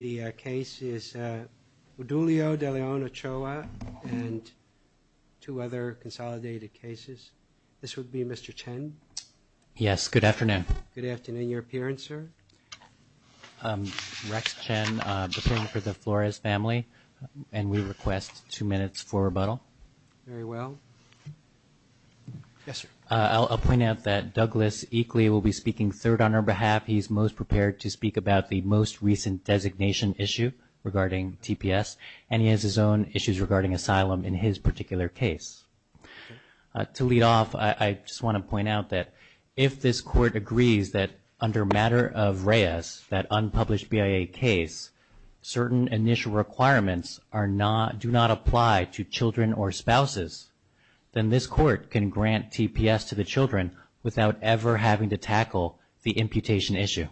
The case is Odulio De Leon-Ochoa and Two other consolidated cases. This would be Mr. Chen. Yes. Good afternoon. Good afternoon your appearance, sir Rex Chen for the Flores family and we request two minutes for rebuttal very well Yes, sir, I'll point out that Douglas equally will be speaking third on our behalf He's most prepared to speak about the most recent designation issue regarding TPS And he has his own issues regarding asylum in his particular case To lead off. I just want to point out that if this court agrees that under matter of Reyes that unpublished BIA case Certain initial requirements are not do not apply to children or spouses Then this court can grant TPS to the children without ever having to tackle the imputation issue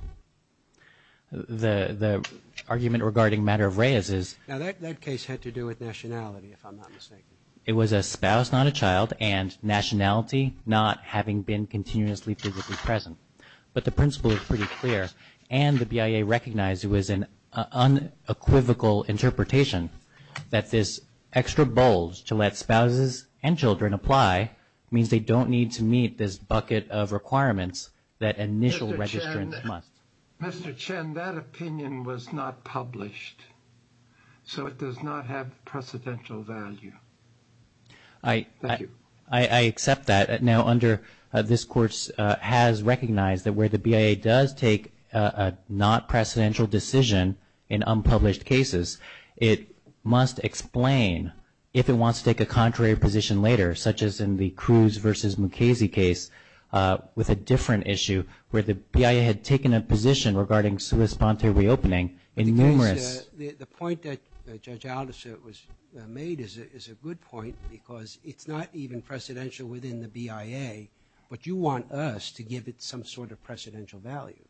The the argument regarding matter of Reyes is now that that case had to do with nationality It was a spouse not a child and nationality not having been continuously physically present but the principle is pretty clear and the BIA recognized it was an unequivocal interpretation That this extra bulge to let spouses and children apply means they don't need to meet this bucket of requirements that initial registrants must Mr. Chen that opinion was not published So it does not have precedential value. I Thank you. I accept that now under this courts has recognized that where the BIA does take a Not-precedential decision in unpublished cases It must explain if it wants to take a contrary position later such as in the Cruz versus Mukasey case With a different issue where the BIA had taken a position regarding sui sponte reopening in numerous Because it's not even precedential within the BIA, but you want us to give it some sort of precedential value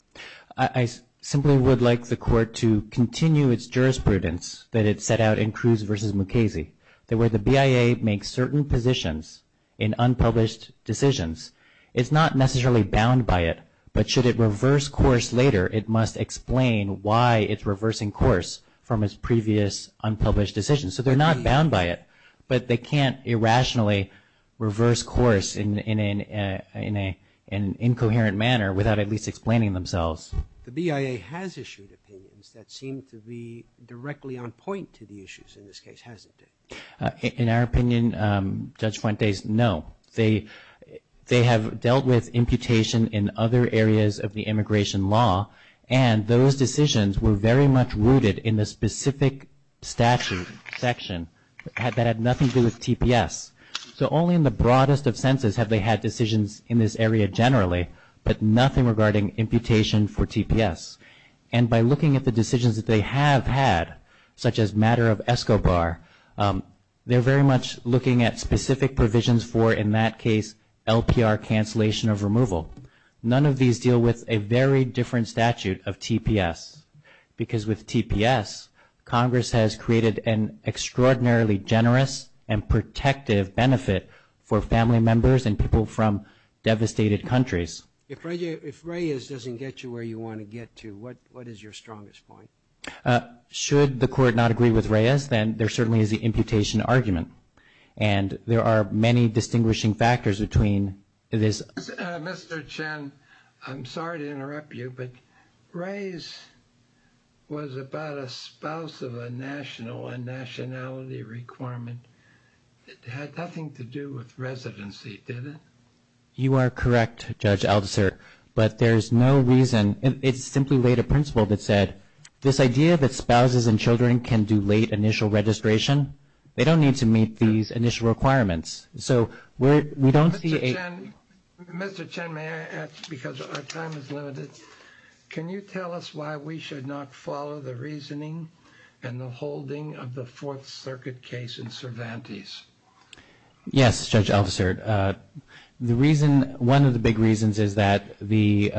I Simply would like the court to continue its jurisprudence that it set out in Cruz versus Mukasey There were the BIA make certain positions in Unpublished decisions, it's not necessarily bound by it But should it reverse course later it must explain why it's reversing course from his previous unpublished decision So they're not bound by it, but they can't irrationally reverse course in in a in a in Explaining themselves the BIA has issued opinions that seem to be directly on point to the issues in this case, hasn't it? in our opinion Judge Fuentes. No, they they have dealt with imputation in other areas of the immigration law and Those decisions were very much rooted in the specific statute section Had that had nothing to do with TPS So only in the broadest of senses have they had decisions in this area generally But nothing regarding imputation for TPS and by looking at the decisions that they have had such as matter of ESCO bar They're very much looking at specific provisions for in that case LPR cancellation of removal none of these deal with a very different statute of TPS because with TPS Congress has created an extraordinarily generous and protective benefit for family members and people from Devastated countries if Reyes doesn't get you where you want to get to what what is your strongest point? should the court not agree with Reyes then there certainly is the imputation argument and There are many distinguishing factors between this Mr. Chen, I'm sorry to interrupt you but Reyes Was about a spouse of a national and nationality requirement Had nothing to do with residency. Did it you are correct judge officer, but there's no reason It's simply laid a principle that said this idea that spouses and children can do late initial registration They don't need to meet these initial requirements. So we don't see a Mr. Chen may I ask because our time is limited Can you tell us why we should not follow the reasoning and the holding of the Fourth Circuit case in Cervantes? Yes, judge officer the reason one of the big reasons is that the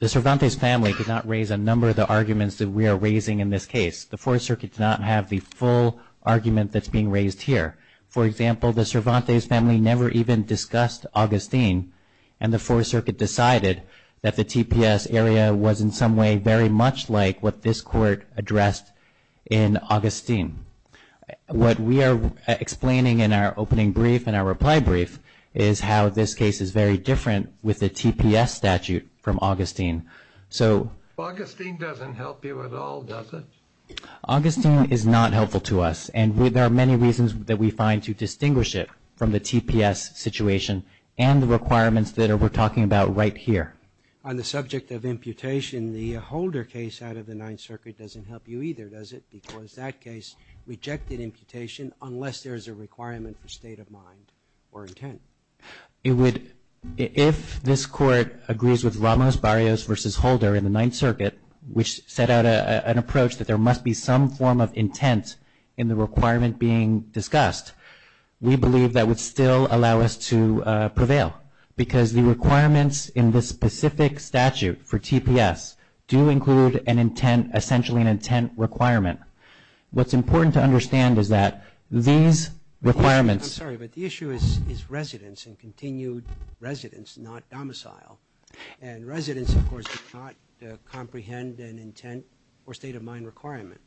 The Cervantes family could not raise a number of the arguments that we are raising in this case The Fourth Circuit does not have the full argument that's being raised here for example the Cervantes family never even discussed Augustine and The Fourth Circuit decided that the TPS area was in some way very much like what this court addressed in Augustine What we are Explaining in our opening brief and our reply brief is how this case is very different with the TPS statute from Augustine So Augustine doesn't help you at all. Does it? Augustine is not helpful to us and there are many reasons that we find to distinguish it from the TPS Situation and the requirements that are we're talking about right here on the subject of imputation The holder case out of the Ninth Circuit doesn't help you either does it because that case Rejected imputation unless there's a requirement for state of mind or intent It would if this court agrees with Ramos Barrios versus Holder in the Ninth Circuit Which set out an approach that there must be some form of intent in the requirement being discussed We believe that would still allow us to prevail because the requirements in this specific statute for TPS Do include an intent essentially an intent requirement What's important to understand is that these? Requirements, sorry, but the issue is is residents and continued residents not domicile and residents of course comprehend an intent or state of mind requirement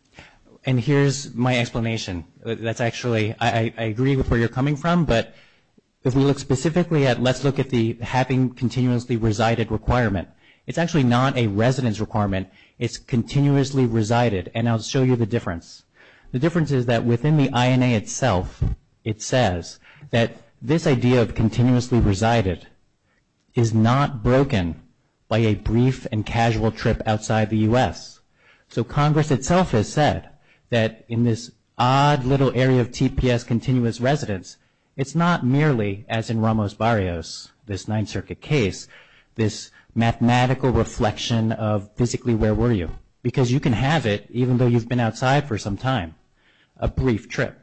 and here's my explanation that's actually I agree with where you're coming from but If we look specifically at let's look at the having continuously resided requirement. It's actually not a residence requirement It's continuously resided and I'll show you the difference. The difference is that within the INA itself It says that this idea of continuously resided is Not broken by a brief and casual trip outside the u.s So Congress itself has said that in this odd little area of TPS continuous residents It's not merely as in Ramos Barrios this Ninth Circuit case this Mathematical reflection of physically where were you because you can have it even though you've been outside for some time a brief trip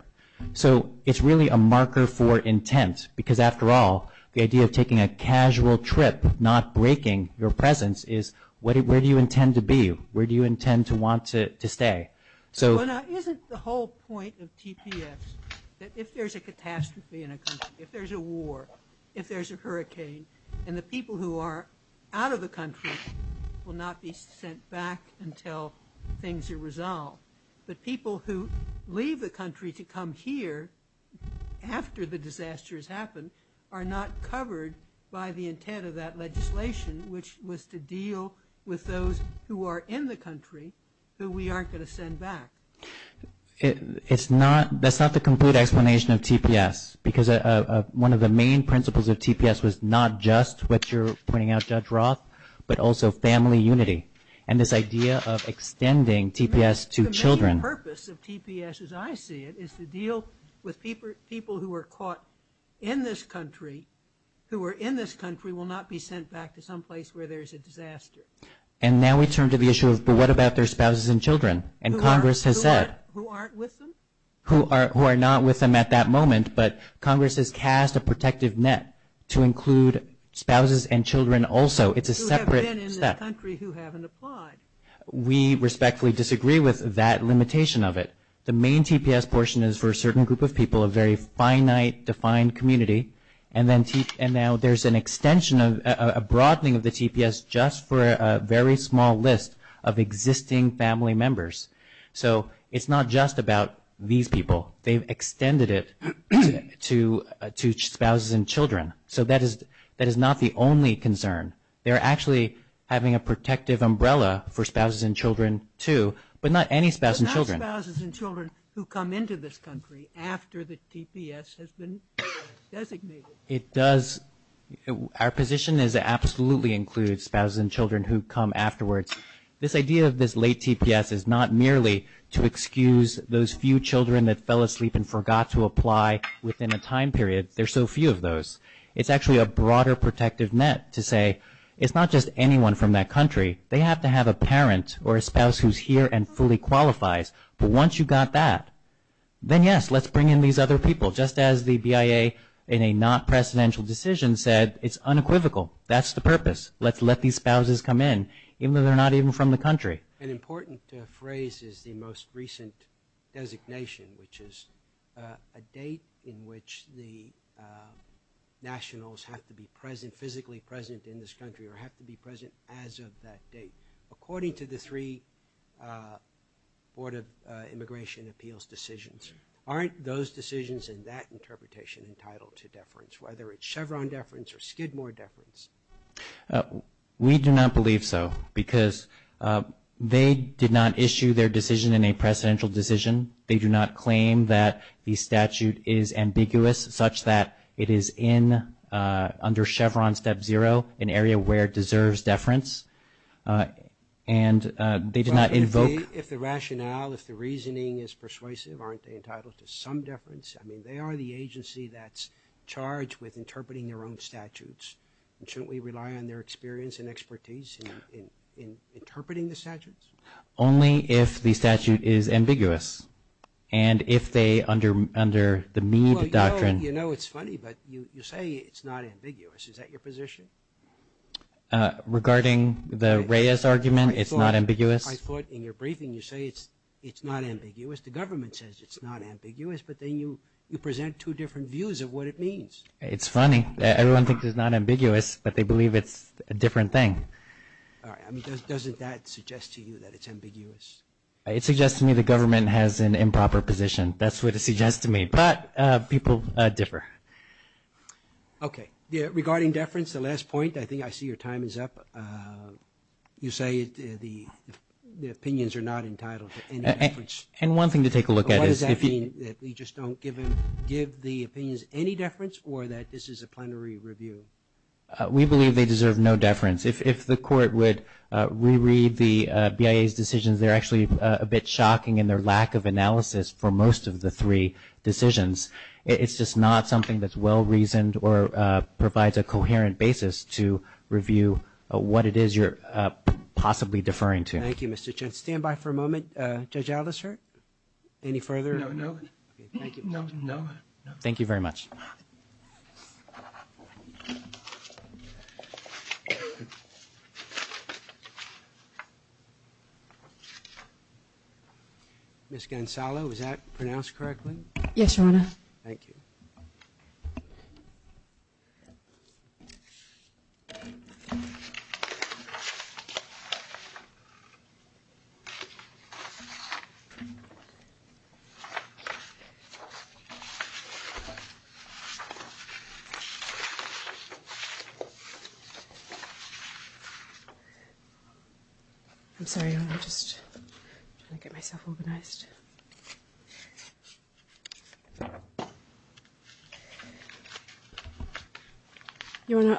So it's really a marker for intent because after all the idea of taking a casual trip not breaking Your presence is what it where do you intend to be? Where do you intend to want to stay? So isn't the whole point of TPS that if there's a catastrophe in a country if there's a war if there's a hurricane And the people who are out of the country will not be sent back until things are resolved But people who leave the country to come here After the disaster has happened are not covered by the intent of that legislation Which was to deal with those who are in the country who we aren't going to send back It's not that's not the complete explanation of TPS because One of the main principles of TPS was not just what you're pointing out judge Roth But also family unity and this idea of extending TPS to children Deal with people people who were caught in this country Who were in this country will not be sent back to someplace where there's a disaster And now we turn to the issue of but what about their spouses and children and Congress has said Who are who are not with them at that moment, but Congress has cast a protective net to include spouses and children Also, it's a separate We respectfully disagree with that limitation of it the main TPS portion is for a certain group of people a very finite defined community and then teeth and now there's an Extension of a broadening of the TPS just for a very small list of existing family members So it's not just about these people they've extended it To two spouses and children. So that is that is not the only concern They're actually having a protective umbrella for spouses and children, too but not any spouse and children who come into this country after the TPS has been it does Our position is absolutely include spouses and children who come afterwards This idea of this late TPS is not merely to excuse those few children that fell asleep and forgot to apply Within a time period there's so few of those It's actually a broader protective net to say it's not just anyone from that country They have to have a parent or a spouse who's here and fully qualifies. But once you got that Then yes, let's bring in these other people just as the BIA in a not presidential decision said It's unequivocal. That's the purpose Let's let these spouses come in even though they're not even from the country an important phrase is the most recent designation which is a date in which the Nationals have to be present physically present in this country or have to be present as of that date according to the three Board of Immigration Appeals decisions aren't those decisions in that interpretation entitled to deference whether it's Chevron deference or Skidmore deference we do not believe so because They did not issue their decision in a presidential decision They do not claim that the statute is ambiguous such that it is in under Chevron step zero an area where it deserves deference and They did not invoke if the rationale if the reasoning is persuasive aren't they entitled to some deference? They are the agency that's charged with interpreting their own statutes and shouldn't we rely on their experience and expertise in interpreting the statutes only if the statute is ambiguous and If they under under the me the doctrine, you know, it's funny, but you say it's not ambiguous. Is that your position? Regarding the Reyes argument, it's not ambiguous. I thought in your briefing you say it's it's not ambiguous The government says it's not ambiguous, but then you you present two different views of what it means It's funny. Everyone thinks it's not ambiguous, but they believe it's a different thing It suggests to me the government has an improper position that's what it suggests to me but people differ Okay, yeah regarding deference the last point. I think I see your time is up You say the Opinions are not entitled to and one thing to take a look at is Give the opinions any deference or that this is a plenary review We believe they deserve no deference if the court would reread the BIA's decisions They're actually a bit shocking in their lack of analysis for most of the three decisions It's just not something that's well reasoned or provides a coherent basis to review What it is. You're Possibly deferring to thank you. Mr. Chen stand by for a moment. Judge Aldous hurt any further? Thank you very much Miss Gonzalo, is that pronounced correctly? Yes, Your Honor. Thank you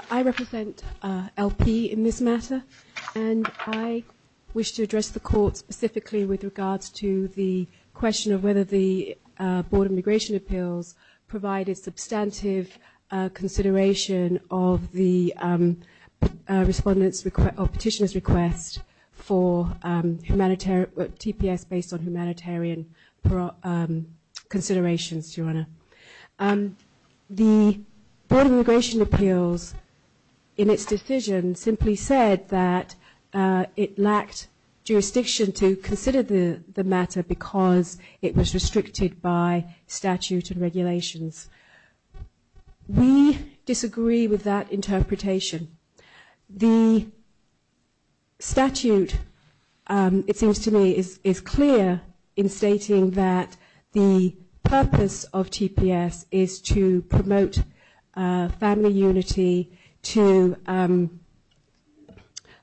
I represent LP in this matter and I wish to address the court specifically with regards to the question of whether the Board of Immigration Appeals provided substantive consideration of the respondents request or petitioners request for humanitarian TPS based on humanitarian considerations your honor the Board of Immigration Appeals in its decision simply said that it lacked jurisdiction to consider the the matter because it was restricted by statute and regulations we disagree with that interpretation the statute it seems to me is clear in stating that the purpose of TPS is to promote family unity to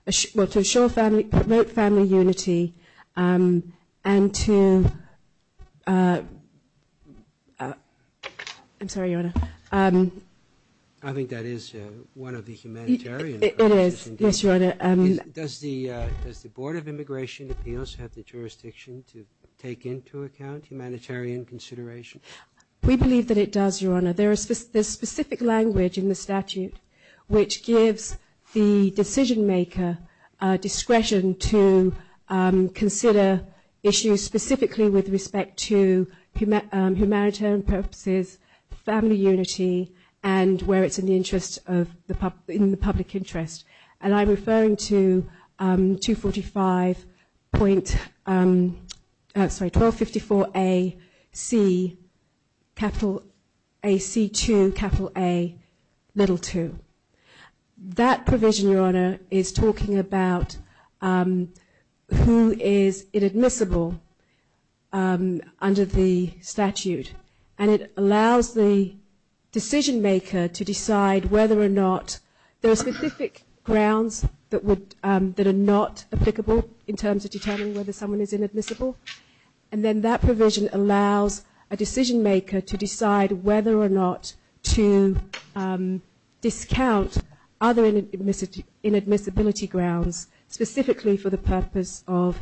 assure family promote family unity and to I'm sorry your honor I think that is one of the humanitarian it is yes your honor does the does the Board of the jurisdiction to take into account humanitarian consideration we believe that it does your honor there is this specific language in the statute which gives the decision-maker discretion to consider issues specifically with respect to humanitarian purposes family unity and where it's in the interest of the public in the public interest and I'm referring to 245 point sorry 1254 a C capital a C to capital a little to that provision your honor is talking about who is inadmissible under the statute and it allows the decision maker to decide whether or not there are specific grounds that would that are not applicable in terms of determining whether someone is inadmissible and then that provision allows a decision-maker to decide whether or not to discount other inadmissibility grounds specifically for the purpose of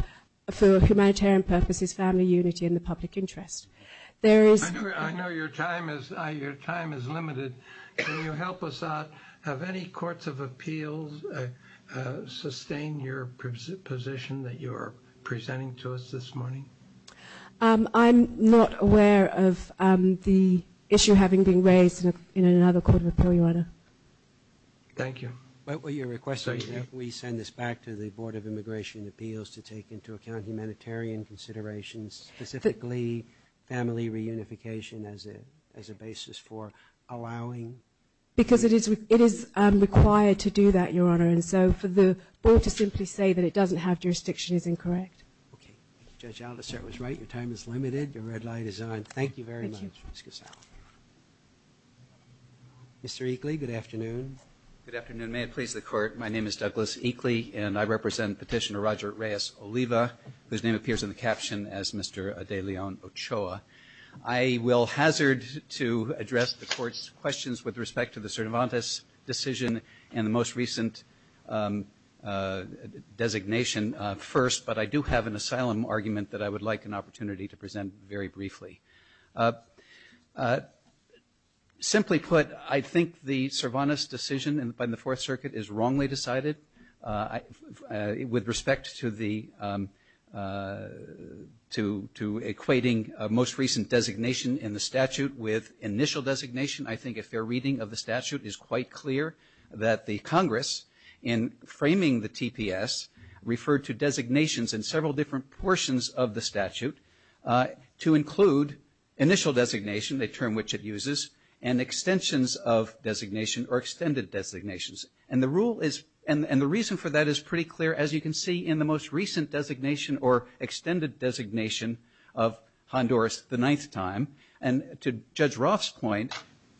for humanitarian purposes family unity in the public interest there is I know your time is your time is limited can you help us out have any courts of appeals sustain your position that you are presenting to us this morning I'm not aware of the issue having been raised in another court of appeal your honor thank you what were your request so you think we send this back to the Board of Immigration Appeals to take into account humanitarian considerations specifically family reunification as a as a basis for allowing because it is it is required to do that your honor and so for the board to simply say that it doesn't have jurisdiction is incorrect okay judge Alvis it was right your time is limited your red light is on thank you very much mr. Eakley good afternoon good afternoon may it please the court my name is Douglas Eakley and I represent petitioner Roger Reyes Oliva whose name appears in the caption as mr. de Leon Ochoa I will hazard to address the court's questions with respect to the Cervantes decision and the most recent designation first but I do have an asylum argument that I would like an opportunity to present very briefly simply put I think the Cervantes decision and by the Fourth Circuit is to to equating most recent designation in the statute with initial designation I think if their reading of the statute is quite clear that the Congress in framing the TPS referred to designations in several different portions of the statute to include initial designation the term which it uses and extensions of designation or extended designations and the rule is and and the reason for that is pretty clear as you can see in the most recent designation or extended designation of Honduras the ninth time and to judge Roth's point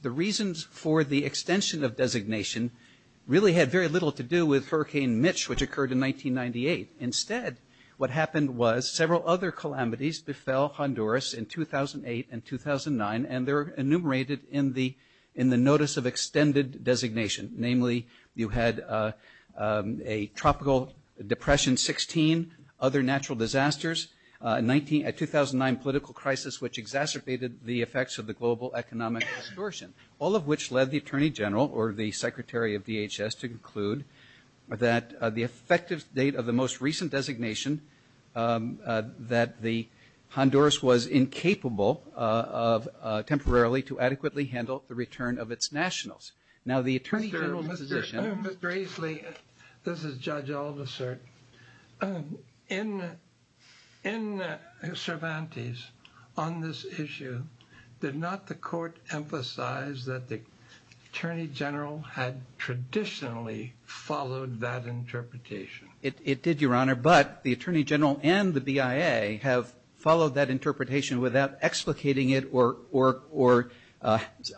the reasons for the extension of designation really had very little to do with Hurricane Mitch which occurred in 1998 instead what happened was several other calamities befell Honduras in 2008 and 2009 and they're enumerated in the in of extended designation namely you had a tropical depression 16 other natural disasters 19 at 2009 political crisis which exacerbated the effects of the global economic distortion all of which led the Attorney General or the Secretary of DHS to conclude that the effective date of the most recent designation that the Honduras was incapable of temporarily to adequately handle the return of its nationals now the Attorney General Mr. Gracely this is judge all the cert in in Cervantes on this issue did not the court emphasize that the Attorney General had traditionally followed that interpretation it did your honor but the Attorney General and the BIA have followed that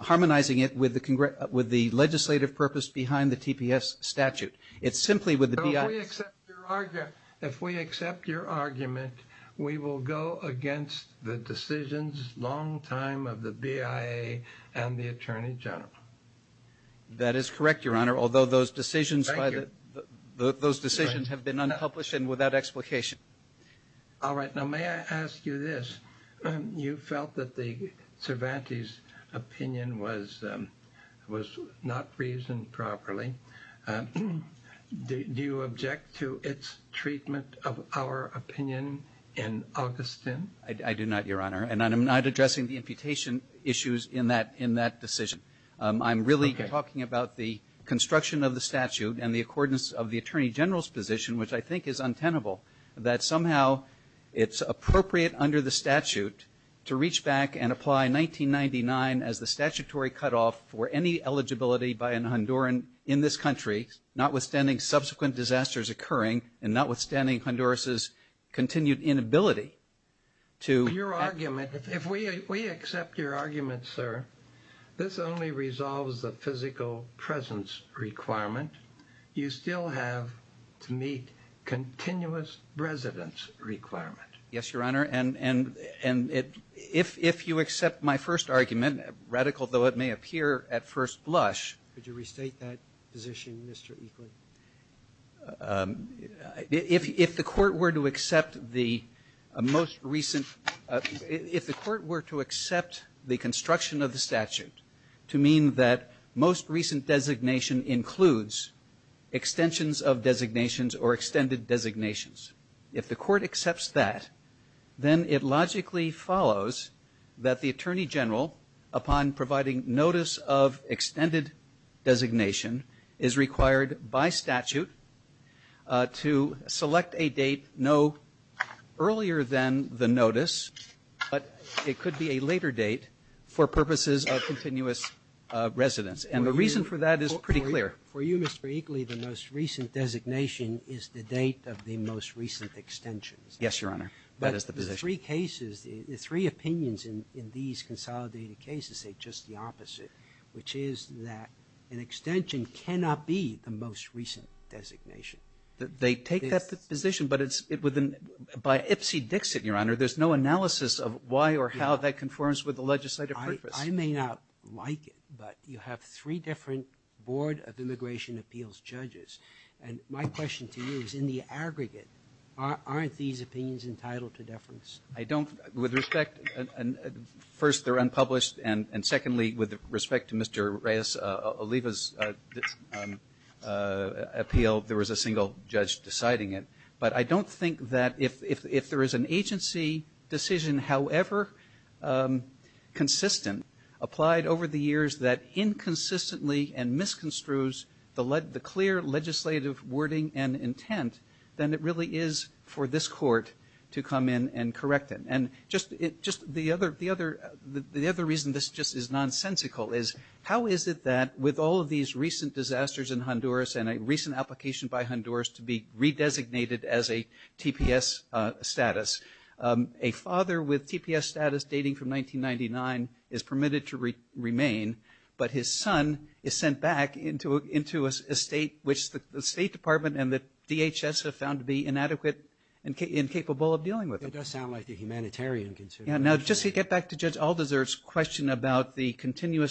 harmonizing it with the legislative purpose behind the TPS statute it's simply with the argument we will go against the decisions long time of the BIA and the Attorney General that is correct your honor although those decisions those decisions have been unpublished and without explication all right now may I ask you this you felt that the Cervantes opinion was was not reasoned properly do you object to its treatment of our opinion in Augustin I do not your honor and I'm not addressing the imputation issues in that in that decision I'm really talking about the construction of the statute and the accordance of the Attorney General's position which I think is untenable that somehow it's appropriate under the statute to reach back and apply 1999 as the statutory cutoff for any eligibility by an Honduran in this country notwithstanding subsequent disasters occurring and notwithstanding Honduras's continued inability to your argument if we we accept your argument sir this only resolves the physical presence requirement you still have to continuous residence requirement yes your honor and and and it if if you accept my first argument radical though it may appear at first blush did you restate that position mr. equally if the court were to accept the most recent if the court were to accept the construction of the statute to mean that most recent designation includes extensions of designations or extended designations if the court accepts that then it logically follows that the Attorney General upon providing notice of extended designation is required by statute to select a date no earlier than the notice but it could be a later date for purposes of continuous residence and the reason for that is pretty clear for you mr. equally the most recent designation is the date of the most recent extensions yes your honor but as the three cases the three opinions in these consolidated cases say just the opposite which is that an extension cannot be the most recent designation that they take that position but it's it within by ipsy-dixit your honor there's no analysis of why or how that conforms with the legislative purpose I may not like it but you have three different Board of Immigration Appeals judges and my question to you is in the aggregate aren't these opinions entitled to deference I don't with respect and first they're unpublished and and secondly with respect to mr. Reyes Oliva's appeal there was a single judge deciding it but I don't think that if if there is an agency decision however consistent applied over the years that inconsistently and misconstrues the lead the clear legislative wording and intent then it really is for this court to come in and correct it and just it just the other the other the other reason this just is nonsensical is how is it that with all of these recent disasters in Honduras and a recent application by Honduras to be redesignated as a TPS status a father with TPS status dating from 1999 is permitted to remain but his son is sent back into into a state which the State Department and the DHS have found to be inadequate and capable of dealing with it does sound like the humanitarian concern now just to get back to judge all deserts question about the properly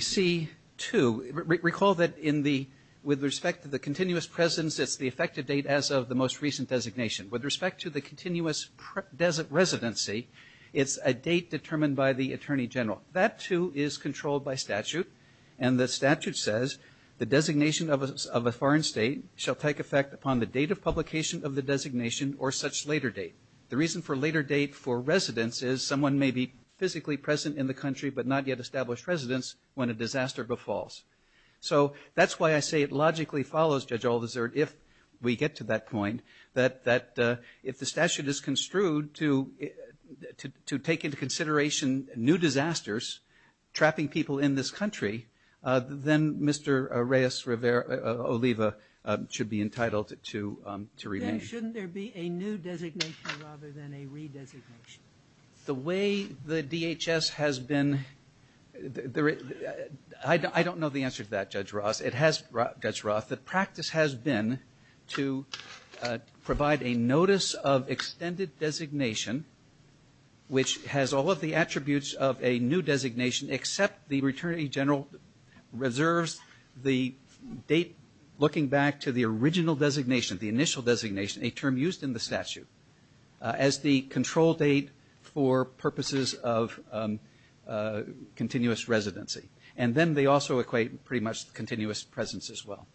see to recall that in the with respect to the continuous presence it's the effective date as of the most recent designation with respect to the continuous desert residency it's a date determined by the Attorney General that too is controlled by statute and the statute says the designation of a foreign state shall take effect upon the date of publication of the designation or such later date the reason for later date for residents is someone may be established residents when a disaster befalls so that's why I say it logically follows judge all desert if we get to that point that that if the statute is construed to to take into consideration new disasters trapping people in this country then mr. Reyes Rivera Oliva should be entitled to the way the DHS has been there I don't know the answer to that judge Ross it has brought judge Roth that practice has been to provide a notice of extended designation which has all of the attributes of a new designation except the returning general reserves the date looking back to the original designation the initial designation a term used in the statute as the control date for purposes of continuous residency and then they also equate pretty much continuous presence as well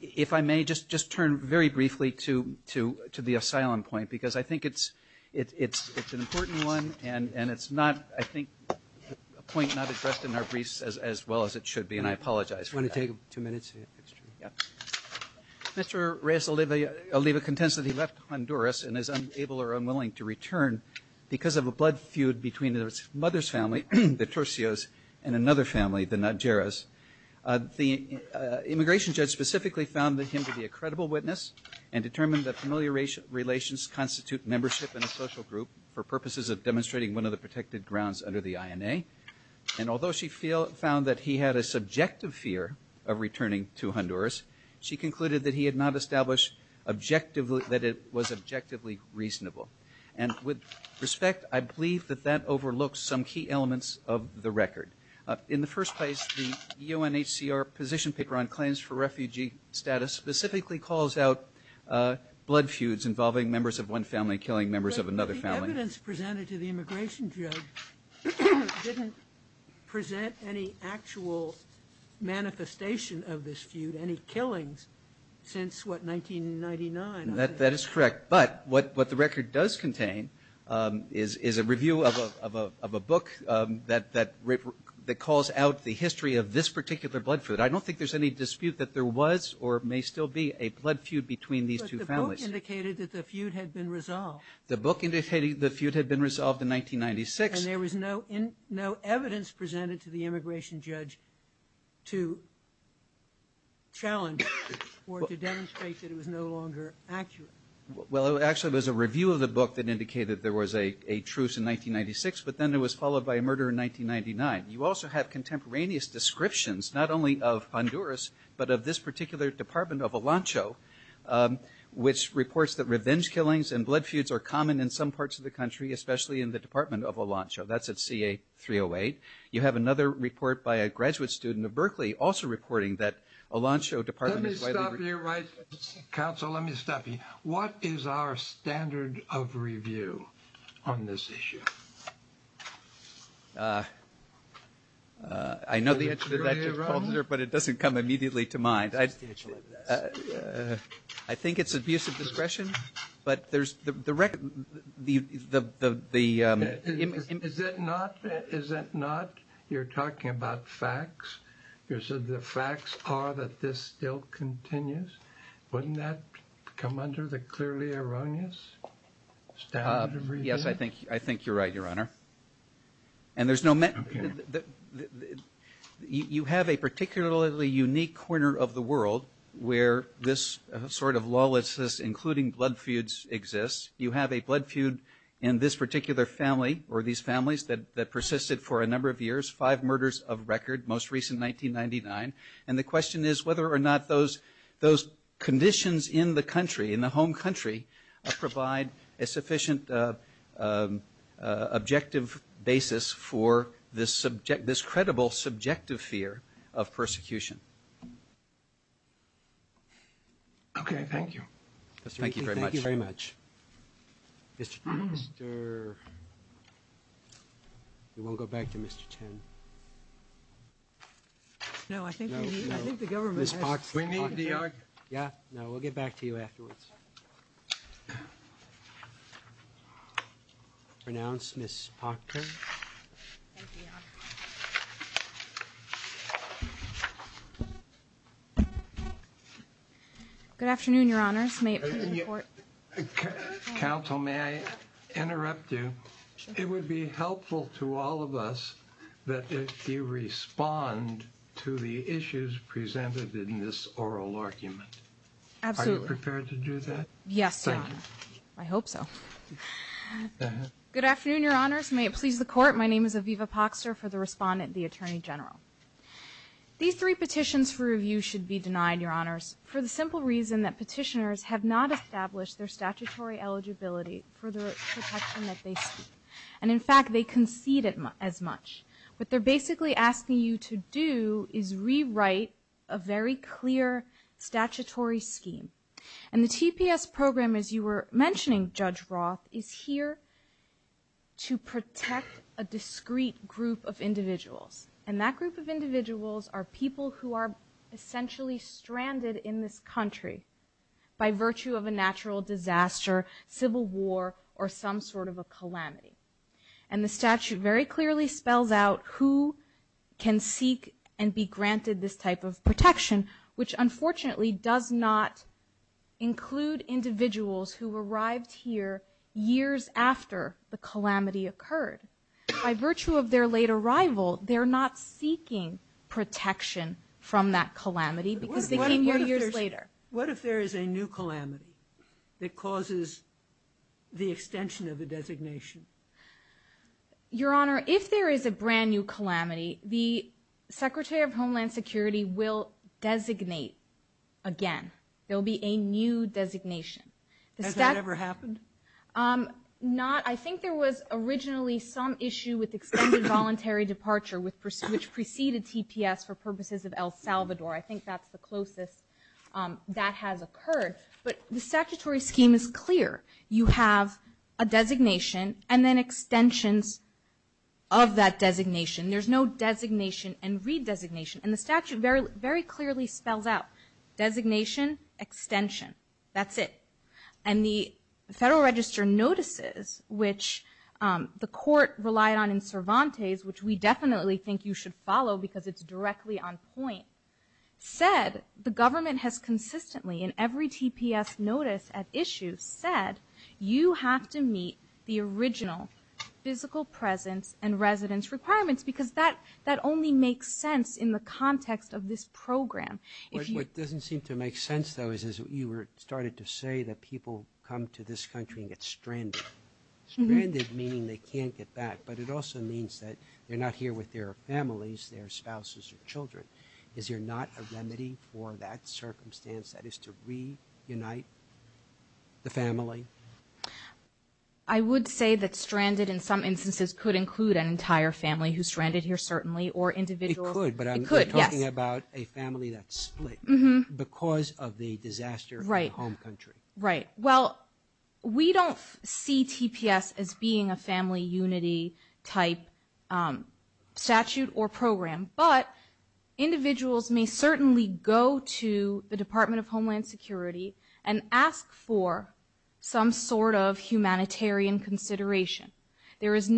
if I may just just turn very briefly to to to the asylum point because I think it's it's it's an important one and and it's not I think a point not addressed in our briefs as well as it should be and I apologize for to take two minutes mr. Reyes Oliva Oliva contends that he left Honduras and is able or unwilling to return because of a blood feud between his mother's family the torsos and another family the not Jarrah's the immigration judge specifically found that him to be a credible witness and determined that familiar racial relations constitute membership in a social group for purposes of demonstrating one of the protected grounds under the INA and although she feel found that he had a subjective fear of returning to Honduras she concluded that he had not established objectively that it was objectively reasonable and with respect I believe that that overlooks some key elements of the record in the first place the UNHCR position paper on claims for refugee status specifically calls out blood feuds involving members of one family killing members of another family didn't present any actual manifestation of this feud any killings since what that is correct but what what the record does contain is is a review of a book that that that calls out the history of this particular blood food I don't think there's any dispute that there was or may still be a blood feud between these two families the book indicated the feud had been resolved in 1996 there was no in no evidence presented to the immigration judge to challenge or to demonstrate that it was no longer accurate well actually there's a review of the book that indicated there was a a truce in 1996 but then it was followed by a murder in 1999 you also have contemporaneous descriptions not only of Honduras but of this particular Department of Aloncho which reports that revenge killings and blood feuds are common in some parts of the country especially in the Department of Aloncho that's at CA 308 you have another report by a graduate student of Berkeley also reporting that Aloncho department council let me stop you what is our standard of review on this issue I know the answer but it doesn't come immediately to mind I I think it's abusive discretion but there's the record the the is it not is it not you're talking about facts you said the facts are that this still continues wouldn't that come under the clearly erroneous yes I think I think you're right your honor and there's no men you have a particularly unique corner of the world where this sort of lawlessness including blood feuds exists you have a blood feud in this particular family or these families that that persisted for a five murders of record most recent 1999 and the question is whether or not those those conditions in the country in the home country provide a sufficient objective basis for this subject this credible subjective fear of persecution okay thank you thank you very much very much mr. you won't go back to mr. Chen yeah no we'll get back to you afterwards pronounced miss Parker good afternoon your honors may counsel may I interrupt you it would be helpful to all of us that if you respond to the issues presented in this oral argument yes I hope so good afternoon your honors may it please the court my name is Aviva Poxer for the respondent the Attorney General these three petitions for review should be denied your honors for the simple reason that petitioners have not established their statutory eligibility for the and in fact they conceded as much but they're basically asking you to do is rewrite a very clear statutory scheme and the TPS program as you were mentioning judge Roth is here to protect a discreet group of individuals and that group of individuals are people who are essentially stranded in this country by virtue of a natural disaster civil war or some sort of a calamity and the granted this type of protection which unfortunately does not include individuals who arrived here years after the calamity occurred by virtue of their late arrival they're not seeking protection from that calamity because they came here years later what if there is a new calamity that causes the extension of a designation your honor if there is a brand new calamity the Secretary of Homeland Security will designate again there'll be a new designation the staff ever happened not I think there was originally some issue with extended voluntary departure with which preceded TPS for purposes of El Salvador I think that's the closest that has occurred but the statutory scheme is clear you have a designation and then extensions of that designation there's no designation and redesignation and the statute very very clearly spells out designation extension that's it and the Federal Register notices which the court relied on in Cervantes which we definitely think you should follow because it's directly on point said the government has consistently in every TPS notice at issue said you have to meet the original physical presence and that only makes sense in the context of this program it doesn't seem to make sense though is as you were started to say that people come to this country and get stranded meaning they can't get back but it also means that they're not here with their families their spouses or children is there not a remedy for that circumstance that is to reunite the family I would say that stranded in some certainly or individual but I'm talking about a family that's because of the disaster right home country right well we don't see TPS as being a family unity type statute or program but individuals may certainly go to the Department of Homeland Security and ask for some sort of humanitarian consideration there is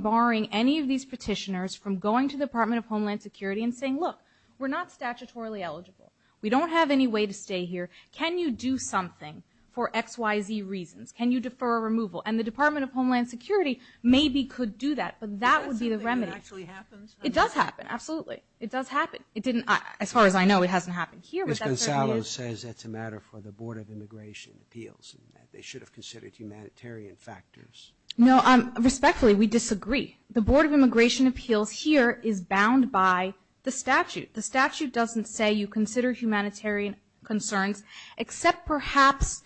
barring any of these petitioners from going to the Department of Homeland Security and saying look we're not statutorily eligible we don't have any way to stay here can you do something for XYZ reasons can you defer a removal and the Department of Homeland Security maybe could do that but that would be the remedy it does happen absolutely it does happen it didn't as far as I know it hasn't happened here but says it's a matter for the Board of Immigration appeals they should have considered humanitarian factors no I'm respectfully we disagree the Board of Immigration appeals here is bound by the statute the statute doesn't say you consider humanitarian concerns except perhaps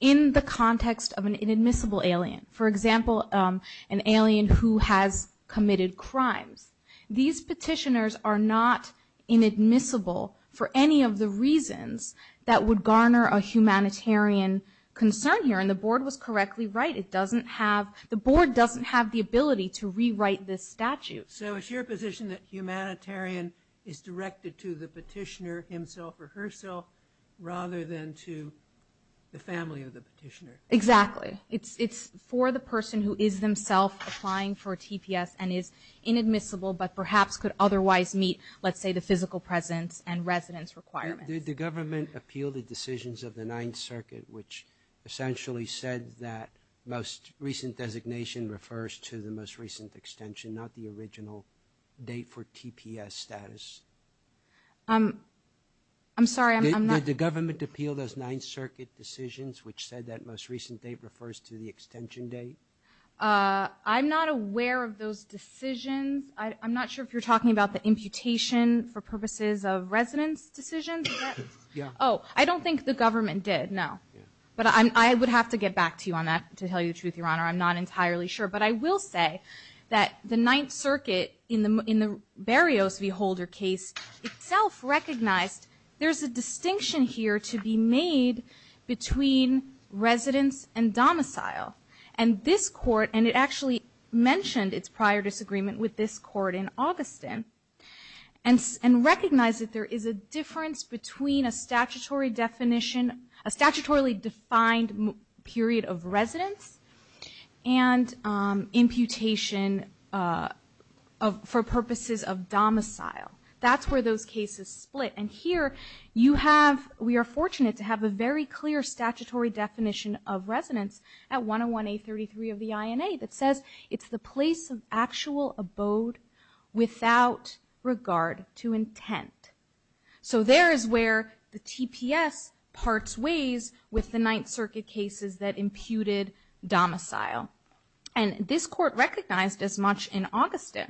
in the context of an inadmissible alien for example an alien who has committed crimes these petitioners are not inadmissible for any of the reasons that would garner a humanitarian concern here and the board was correctly right it doesn't have the ability to rewrite this statute so it's your position that humanitarian is directed to the petitioner himself or herself rather than to the family of the petitioner exactly it's it's for the person who is themself applying for TPS and is inadmissible but perhaps could otherwise meet let's say the physical presence and residence requirements did the government appeal the decisions of the Ninth Circuit which essentially said that most recent designation refers to the most recent extension not the original date for TPS status I'm sorry I'm not the government appealed as Ninth Circuit decisions which said that most recent date refers to the extension date I'm not aware of those decisions I'm not sure if you're talking about the imputation for purposes of residence decisions yeah oh I don't think the to you on that to tell you the truth your honor I'm not entirely sure but I will say that the Ninth Circuit in the in the Berrios v. Holder case itself recognized there's a distinction here to be made between residence and domicile and this court and it actually mentioned its prior disagreement with this court in August in and and recognize that there is a difference between a period of residence and imputation of for purposes of domicile that's where those cases split and here you have we are fortunate to have a very clear statutory definition of residence at 101 a 33 of the INA that says it's the place of actual abode without regard to intent so there is where the TPS parts ways with the Ninth Circuit cases that imputed domicile and this court recognized as much in Augusta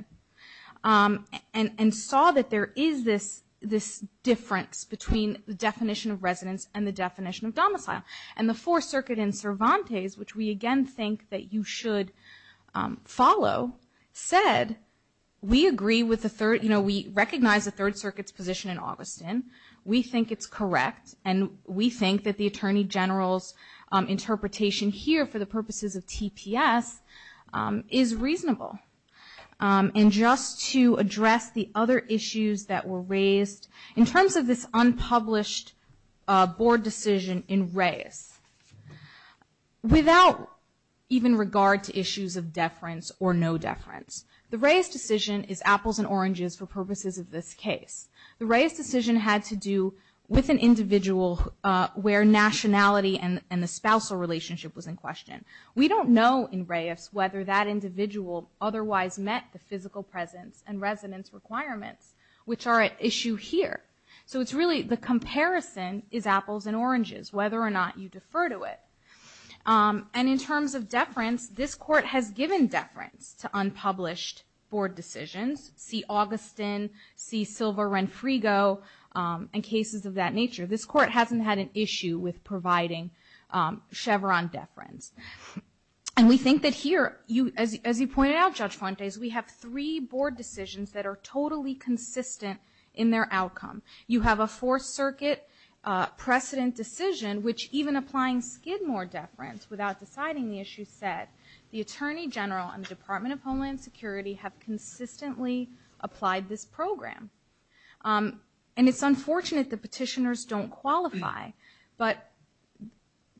and and saw that there is this this difference between the definition of residence and the definition of domicile and the Fourth Circuit in Cervantes which we again think that you should follow said we agree with the third you know we recognize the Third Circuit's position in August in we think it's correct and we think that the Attorney General's interpretation here for the purposes of TPS is reasonable and just to address the other issues that were raised in terms of this unpublished board decision in Reyes without even regard to issues of deference or no deference the Reyes decision is apples and oranges for purposes of this case the Reyes decision had to do with an individual where nationality and and the spousal relationship was in question we don't know in Reyes whether that individual otherwise met the physical presence and residence requirements which are at issue here so it's really the comparison is apples and oranges whether or not you defer to it and in terms of deference this court has given deference to board decisions see Augustin, see Silva-Renfrigo and cases of that nature this court hasn't had an issue with providing Chevron deference and we think that here you as you pointed out Judge Fontes we have three board decisions that are totally consistent in their outcome you have a Fourth Circuit precedent decision which even applying Skidmore deference without deciding the issue said the consistently applied this program and it's unfortunate the petitioners don't qualify but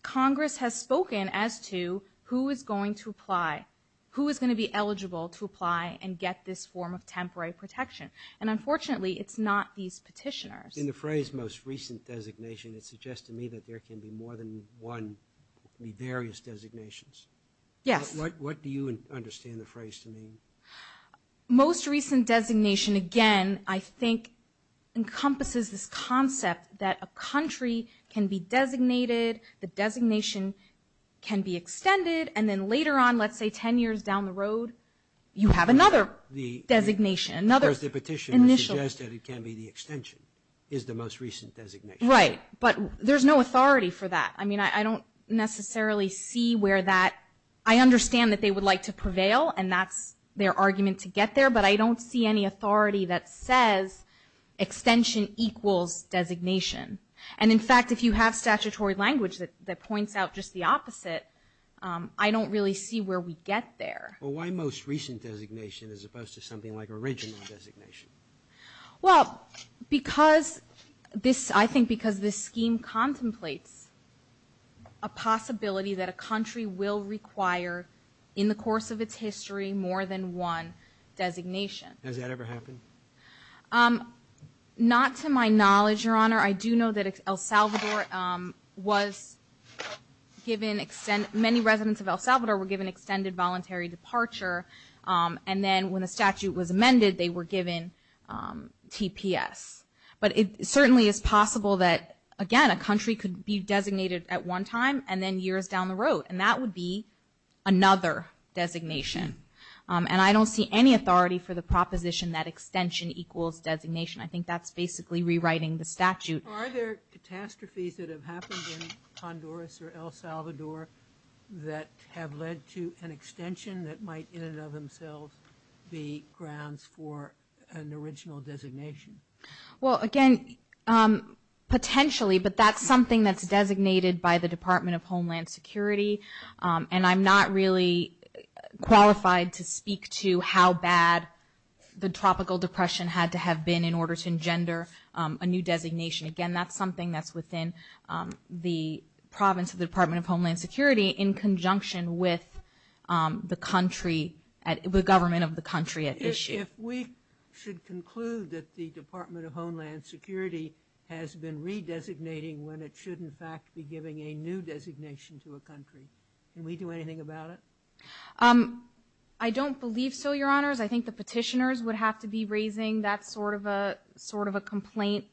Congress has spoken as to who is going to apply who is going to be eligible to apply and get this form of temporary protection and unfortunately it's not these petitioners. In the phrase most recent designation it suggests to me that there can be more than one, various designations. Yes. What do you understand the phrase to mean? Most recent designation again I think encompasses this concept that a country can be designated, the designation can be extended and then later on let's say ten years down the road you have another the designation another. The petitioner suggested it can be the extension is the most recent designation. Right but there's no authority for that I mean I don't necessarily see where that I understand that they would like to prevail and that's their argument to get there but I don't see any authority that says extension equals designation and in fact if you have statutory language that points out just the opposite I don't really see where we get there. Well why most recent designation as opposed to something like original designation? Well because this I think because this scheme contemplates a possibility that a country will require in the course of its history more than one designation. Has that ever happened? Not to my knowledge your honor I do know that El Salvador was given extend many residents of El Salvador were given extended voluntary departure and then when the statute was amended they were TPS but it certainly is possible that again a country could be designated at one time and then years down the road and that would be another designation and I don't see any authority for the proposition that extension equals designation I think that's basically rewriting the statute. Are there catastrophes that have happened in Honduras or El Salvador that have led to an extension that might in and of themselves be grounds for an original designation? Well again potentially but that's something that's designated by the Department of Homeland Security and I'm not really qualified to speak to how bad the Tropical Depression had to have been in order to engender a new designation again that's something that's within the province of the Department of Homeland Security in conjunction with the country at the government of the country at issue. If we should conclude that the Department of Homeland Security has been redesignating when it should in fact be giving a new designation to a country can we do anything about it? I don't believe so your honors I think the petitioners would have to be raising that sort of a sort of a complaint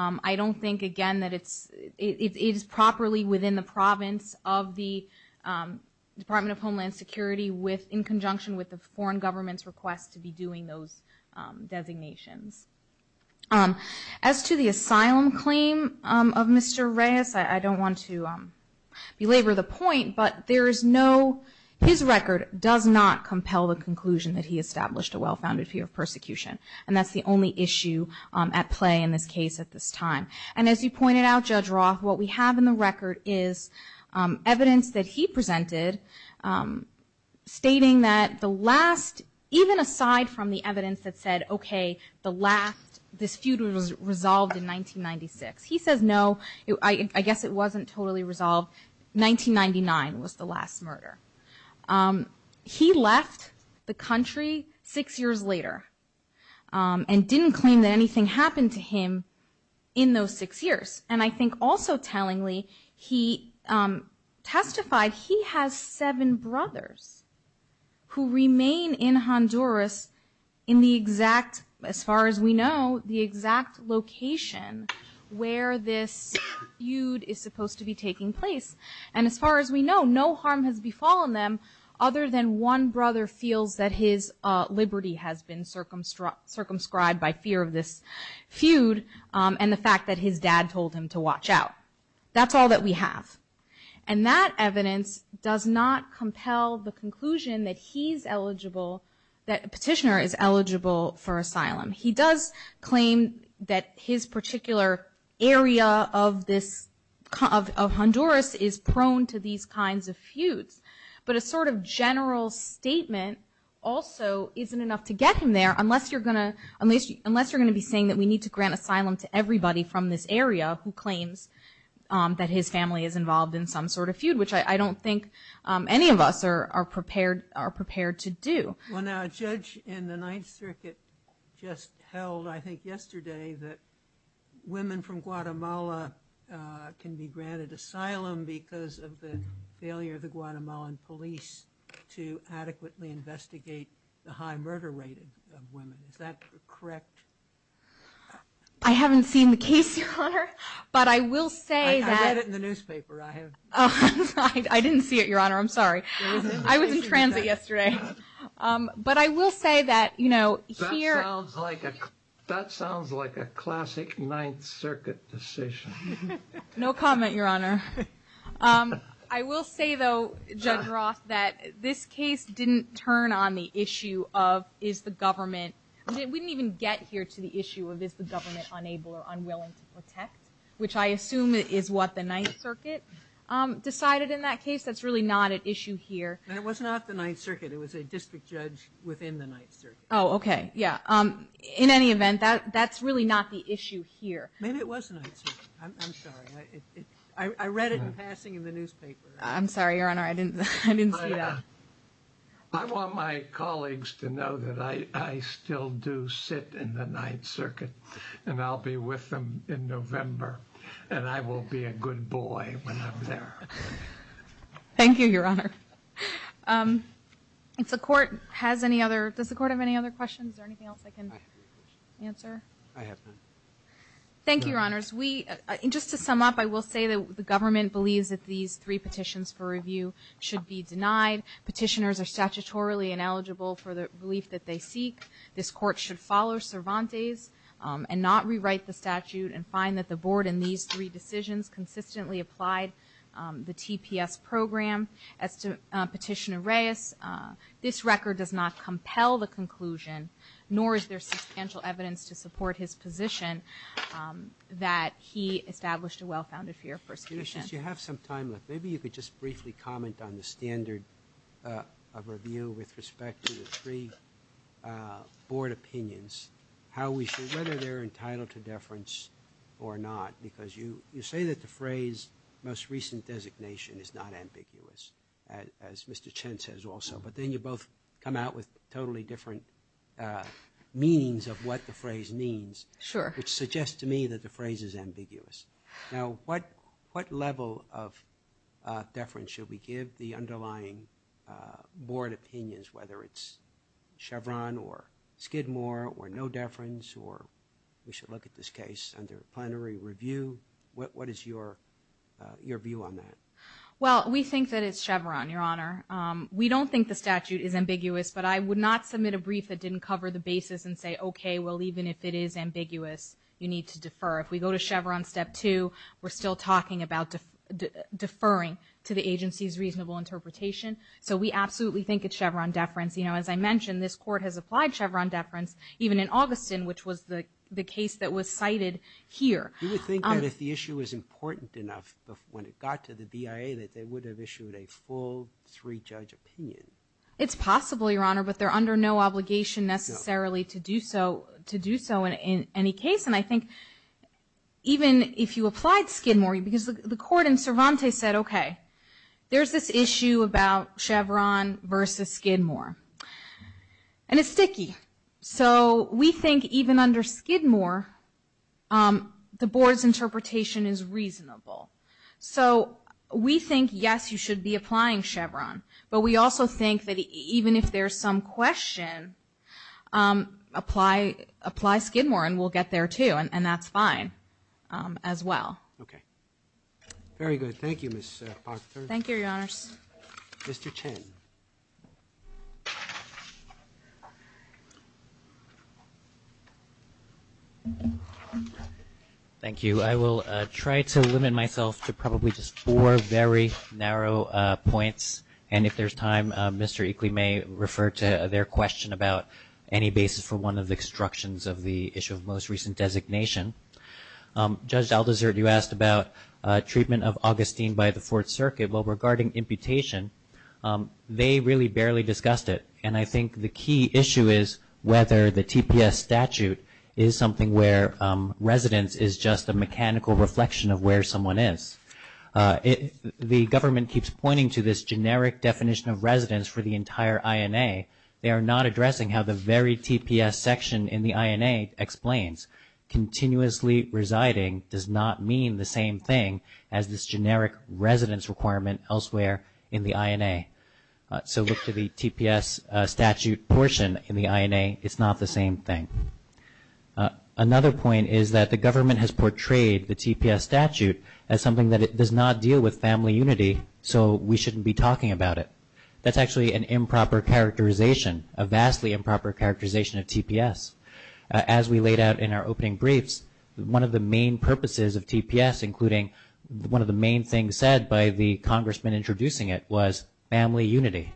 I don't think again that it's it is properly within the province of the Department of Homeland Security with in conjunction with the foreign government's request to be doing those designations. As to the asylum claim of Mr. Reyes I don't want to belabor the point but there is no his record does not compel the conclusion that he established a well-founded fear of persecution and that's the only issue at play in this case at this time and as you pointed out Judge Roth what we have in the record is evidence that he even aside from the evidence that said okay the last this feud was resolved in 1996 he says no I guess it wasn't totally resolved 1999 was the last murder. He left the country six years later and didn't claim that anything happened to him in those six years and I think also tellingly he testified he has seven brothers who remain in Honduras in the exact as far as we know the exact location where this feud is supposed to be taking place and as far as we know no harm has befallen them other than one brother feels that his liberty has been circumstruct circumscribed by fear of this feud and the fact that his dad told him to watch out that's all that we have and that evidence does not compel the conclusion that he's eligible that petitioner is eligible for asylum he does claim that his particular area of this kind of Honduras is prone to these kinds of feuds but a sort of general statement also isn't enough to get him there unless you're gonna unless you unless you're gonna be saying that we need to grant asylum to everybody from this area who claims that his family is involved in some sort of feud which I don't think any of us are are prepared are prepared to do. Well now a judge in the Ninth Circuit just held I think yesterday that women from Guatemala can be granted asylum because of the failure of the Guatemalan police to adequately investigate the high murder rate of I haven't seen the case but I will say that I didn't see it your honor I'm sorry I was in transit yesterday but I will say that you know that sounds like a classic Ninth Circuit decision. No comment your honor I will say though Judge Roth that this case didn't turn on the issue of is the government we didn't even get here to the issue of is the government unable or unwilling to protect which I assume it is what the Ninth Circuit decided in that case that's really not an issue here. It was not the Ninth Circuit it was a district judge within the Ninth Circuit. Oh okay yeah in any event that that's really not the issue here. Maybe it was the Ninth Circuit. I'm sorry I read it in passing in the newspaper. I'm sorry your honor I didn't see that. I want my kids to sit in the Ninth Circuit and I'll be with them in November and I will be a good boy when I'm there. Thank you your honor. If the court has any other does the court have any other questions or anything else I can answer? I have none. Thank you your honors we just to sum up I will say that the government believes that these three petitions for review should be denied petitioners are statutorily ineligible for the belief that they seek this court should follow Cervantes and not rewrite the statute and find that the board in these three decisions consistently applied the TPS program as to Petitioner Reyes. This record does not compel the conclusion nor is there substantial evidence to support his position that he established a well-founded fear of persecution. You have some time left maybe you could just briefly comment on how we should whether they're entitled to deference or not because you you say that the phrase most recent designation is not ambiguous as Mr. Chen says also but then you both come out with totally different meanings of what the phrase means sure which suggests to me that the phrase is ambiguous now what what level of deference should we give the underlying board opinions whether it's Chevron or Skidmore or no deference or we should look at this case under plenary review what is your your view on that? Well we think that it's Chevron your honor we don't think the statute is ambiguous but I would not submit a brief that didn't cover the basis and say okay well even if it is ambiguous you need to defer if we go to Chevron step two we're still talking about deferring to the agency's reasonable interpretation so we absolutely think it's Chevron deference you know as I mentioned this court has applied Chevron deference even in Augustan which was the the case that was cited here. You would think that if the issue is important enough when it got to the BIA that they would have issued a full three judge opinion. It's possible your honor but they're under no obligation necessarily to do so to do so in any case and I think even if you applied Skidmore because the court in Cervantes said okay there's this issue about Chevron versus Skidmore and it's sticky so we think even under Skidmore the board's interpretation is reasonable so we think yes you should be applying Chevron but we also think that even if there's some question apply apply Skidmore and we'll get there too and that's fine as well. Okay very good thank you. Thank you your honors. Mr. Chen. Thank you I will try to limit myself to probably just four very narrow points and if there's time Mr. Eakley may refer to their question about any basis for one of the instructions of the issue of most recent designation. Judge Daldasert you asked about treatment of Augustine by the Fourth Circuit well regarding imputation they really barely discussed it and I think the key issue is whether the TPS statute is something where residence is just a mechanical reflection of where someone is. If the government keeps pointing to this generic definition of residence for the entire INA they are not addressing how the very TPS section in the INA explains continuously residing does not mean the same thing as this generic residence requirement elsewhere in the INA. So look to the TPS statute portion in the INA it's not the same thing. Another point is that the government has portrayed the TPS statute as something that it does not deal with family unity so we shouldn't be talking about it. That's actually an improper characterization a vastly improper characterization of TPS. As we laid out in our opening briefs one of the main purposes of TPS including one of the main things said by the congressman introducing it was family unity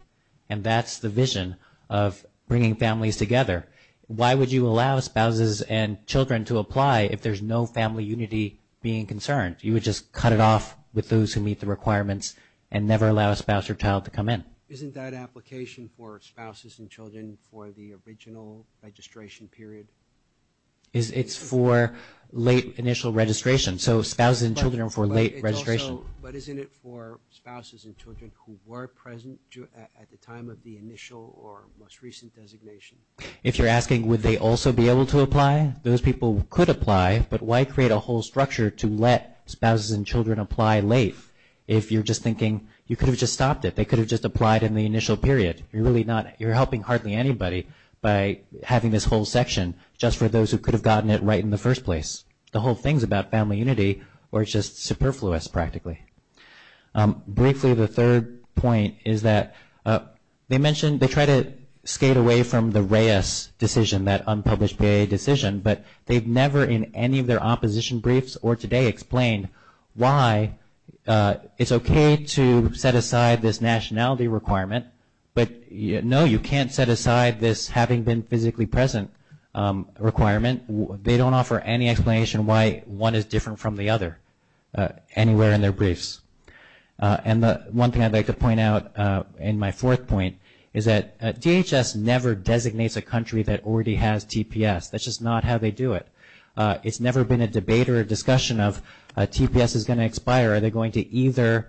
and that's the vision of bringing families together. Why would you allow spouses and children to apply if there's no family unity being concerned you would just cut it off with those who meet the Isn't that application for spouses and children for the original registration period? It's for late initial registration so spouses and children for late registration. But isn't it for spouses and children who were present at the time of the initial or most recent designation? If you're asking would they also be able to apply those people could apply but why create a whole structure to let spouses and children apply late if you're just thinking you could have stopped it they could have just applied in the initial period you're really not you're helping hardly anybody by having this whole section just for those who could have gotten it right in the first place. The whole thing's about family unity or it's just superfluous practically. Briefly the third point is that they mentioned they try to skate away from the Reyes decision that unpublished PA decision but they've never in any of their opposition briefs or today explained why it's okay to set aside this nationality requirement but no you can't set aside this having been physically present requirement. They don't offer any explanation why one is different from the other anywhere in their briefs. And the one thing I'd like to point out in my fourth point is that DHS never designates a country that already has TPS that's just not how they do it. It's never been a debate or a discussion of TPS is going to expire are they going to either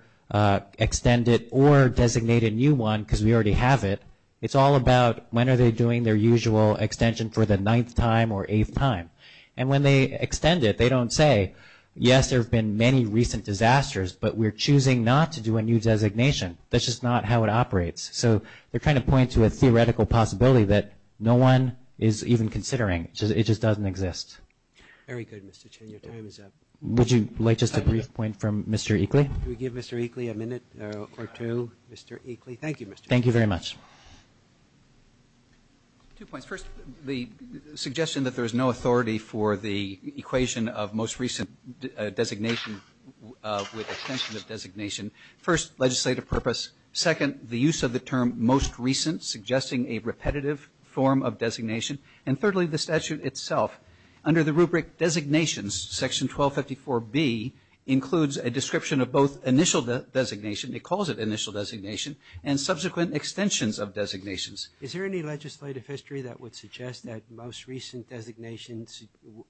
extend it or designate a new one because we already have it. It's all about when are they doing their usual extension for the ninth time or eighth time and when they extend it they don't say yes there have been many recent disasters but we're choosing not to do a new designation that's just not how it operates. So they're trying to point to a theoretical possibility that no one is even considering. It just doesn't exist. Would you like just a brief point from Mr. Eakley. We give Mr. Eakley a minute or two. Thank you Mr. Eakley. Thank you very much. Two points. First the suggestion that there is no authority for the equation of most recent designation with extension of designation. First legislative purpose. Second the use of the term most recent suggesting a repetitive form of designation and thirdly the statute itself under the rubric designations section 1254 B includes a description of both initial designation it calls it initial designation and subsequent extensions of designations. Is there any legislative history that would suggest that most recent designations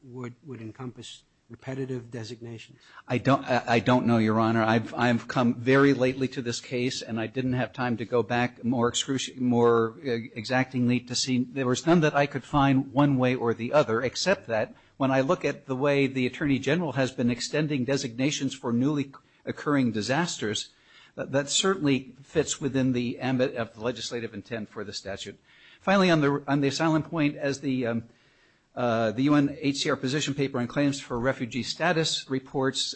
would would encompass repetitive designations? I don't I don't know your honor. I've come very lately to this case and I didn't have time to go back more excruciating more exactingly to see there was none that I could find one way or the other except that when I look at the way the Attorney General has been extending designations for newly occurring disasters that certainly fits within the ambit of legislative intent for the statute. Finally on the on the silent point as the the UNHCR position paper on claims for refugee status reports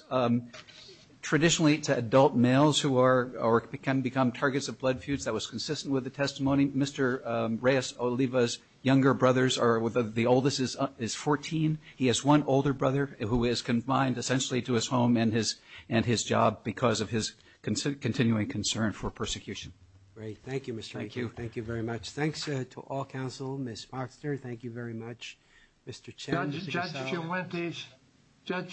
traditionally to adult males who are or can become targets of blood feuds that was consistent with the testimony. Mr. Reyes Oliva's younger brothers are with the oldest is 14. He has one older brother who is confined essentially to his home and his and his job because of his continuing concern for persecution. Great. Thank you. Thank you. Thank you very much. Thanks to all counsel. Ms. Moxner, thank you very much. Mr. Chen. Judge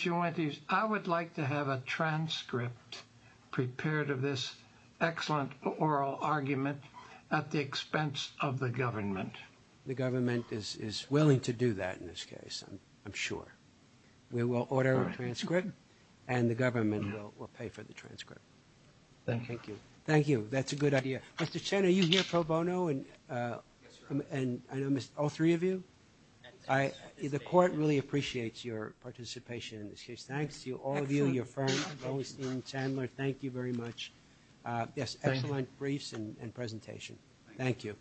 Juwentis, I would like to have a transcript prepared of this excellent oral argument at the expense of the government. The government is willing to do that in this case I'm sure. We will order a transcript and the government will pay for the transcript. Thank you. Thank you. That's a good idea. Mr. Chen, are you here pro bono? And I know all three of you. The court really appreciates your participation in this case. Thanks to all of you, your friend, thank you very much. Yes excellent briefs and presentation. Thank you.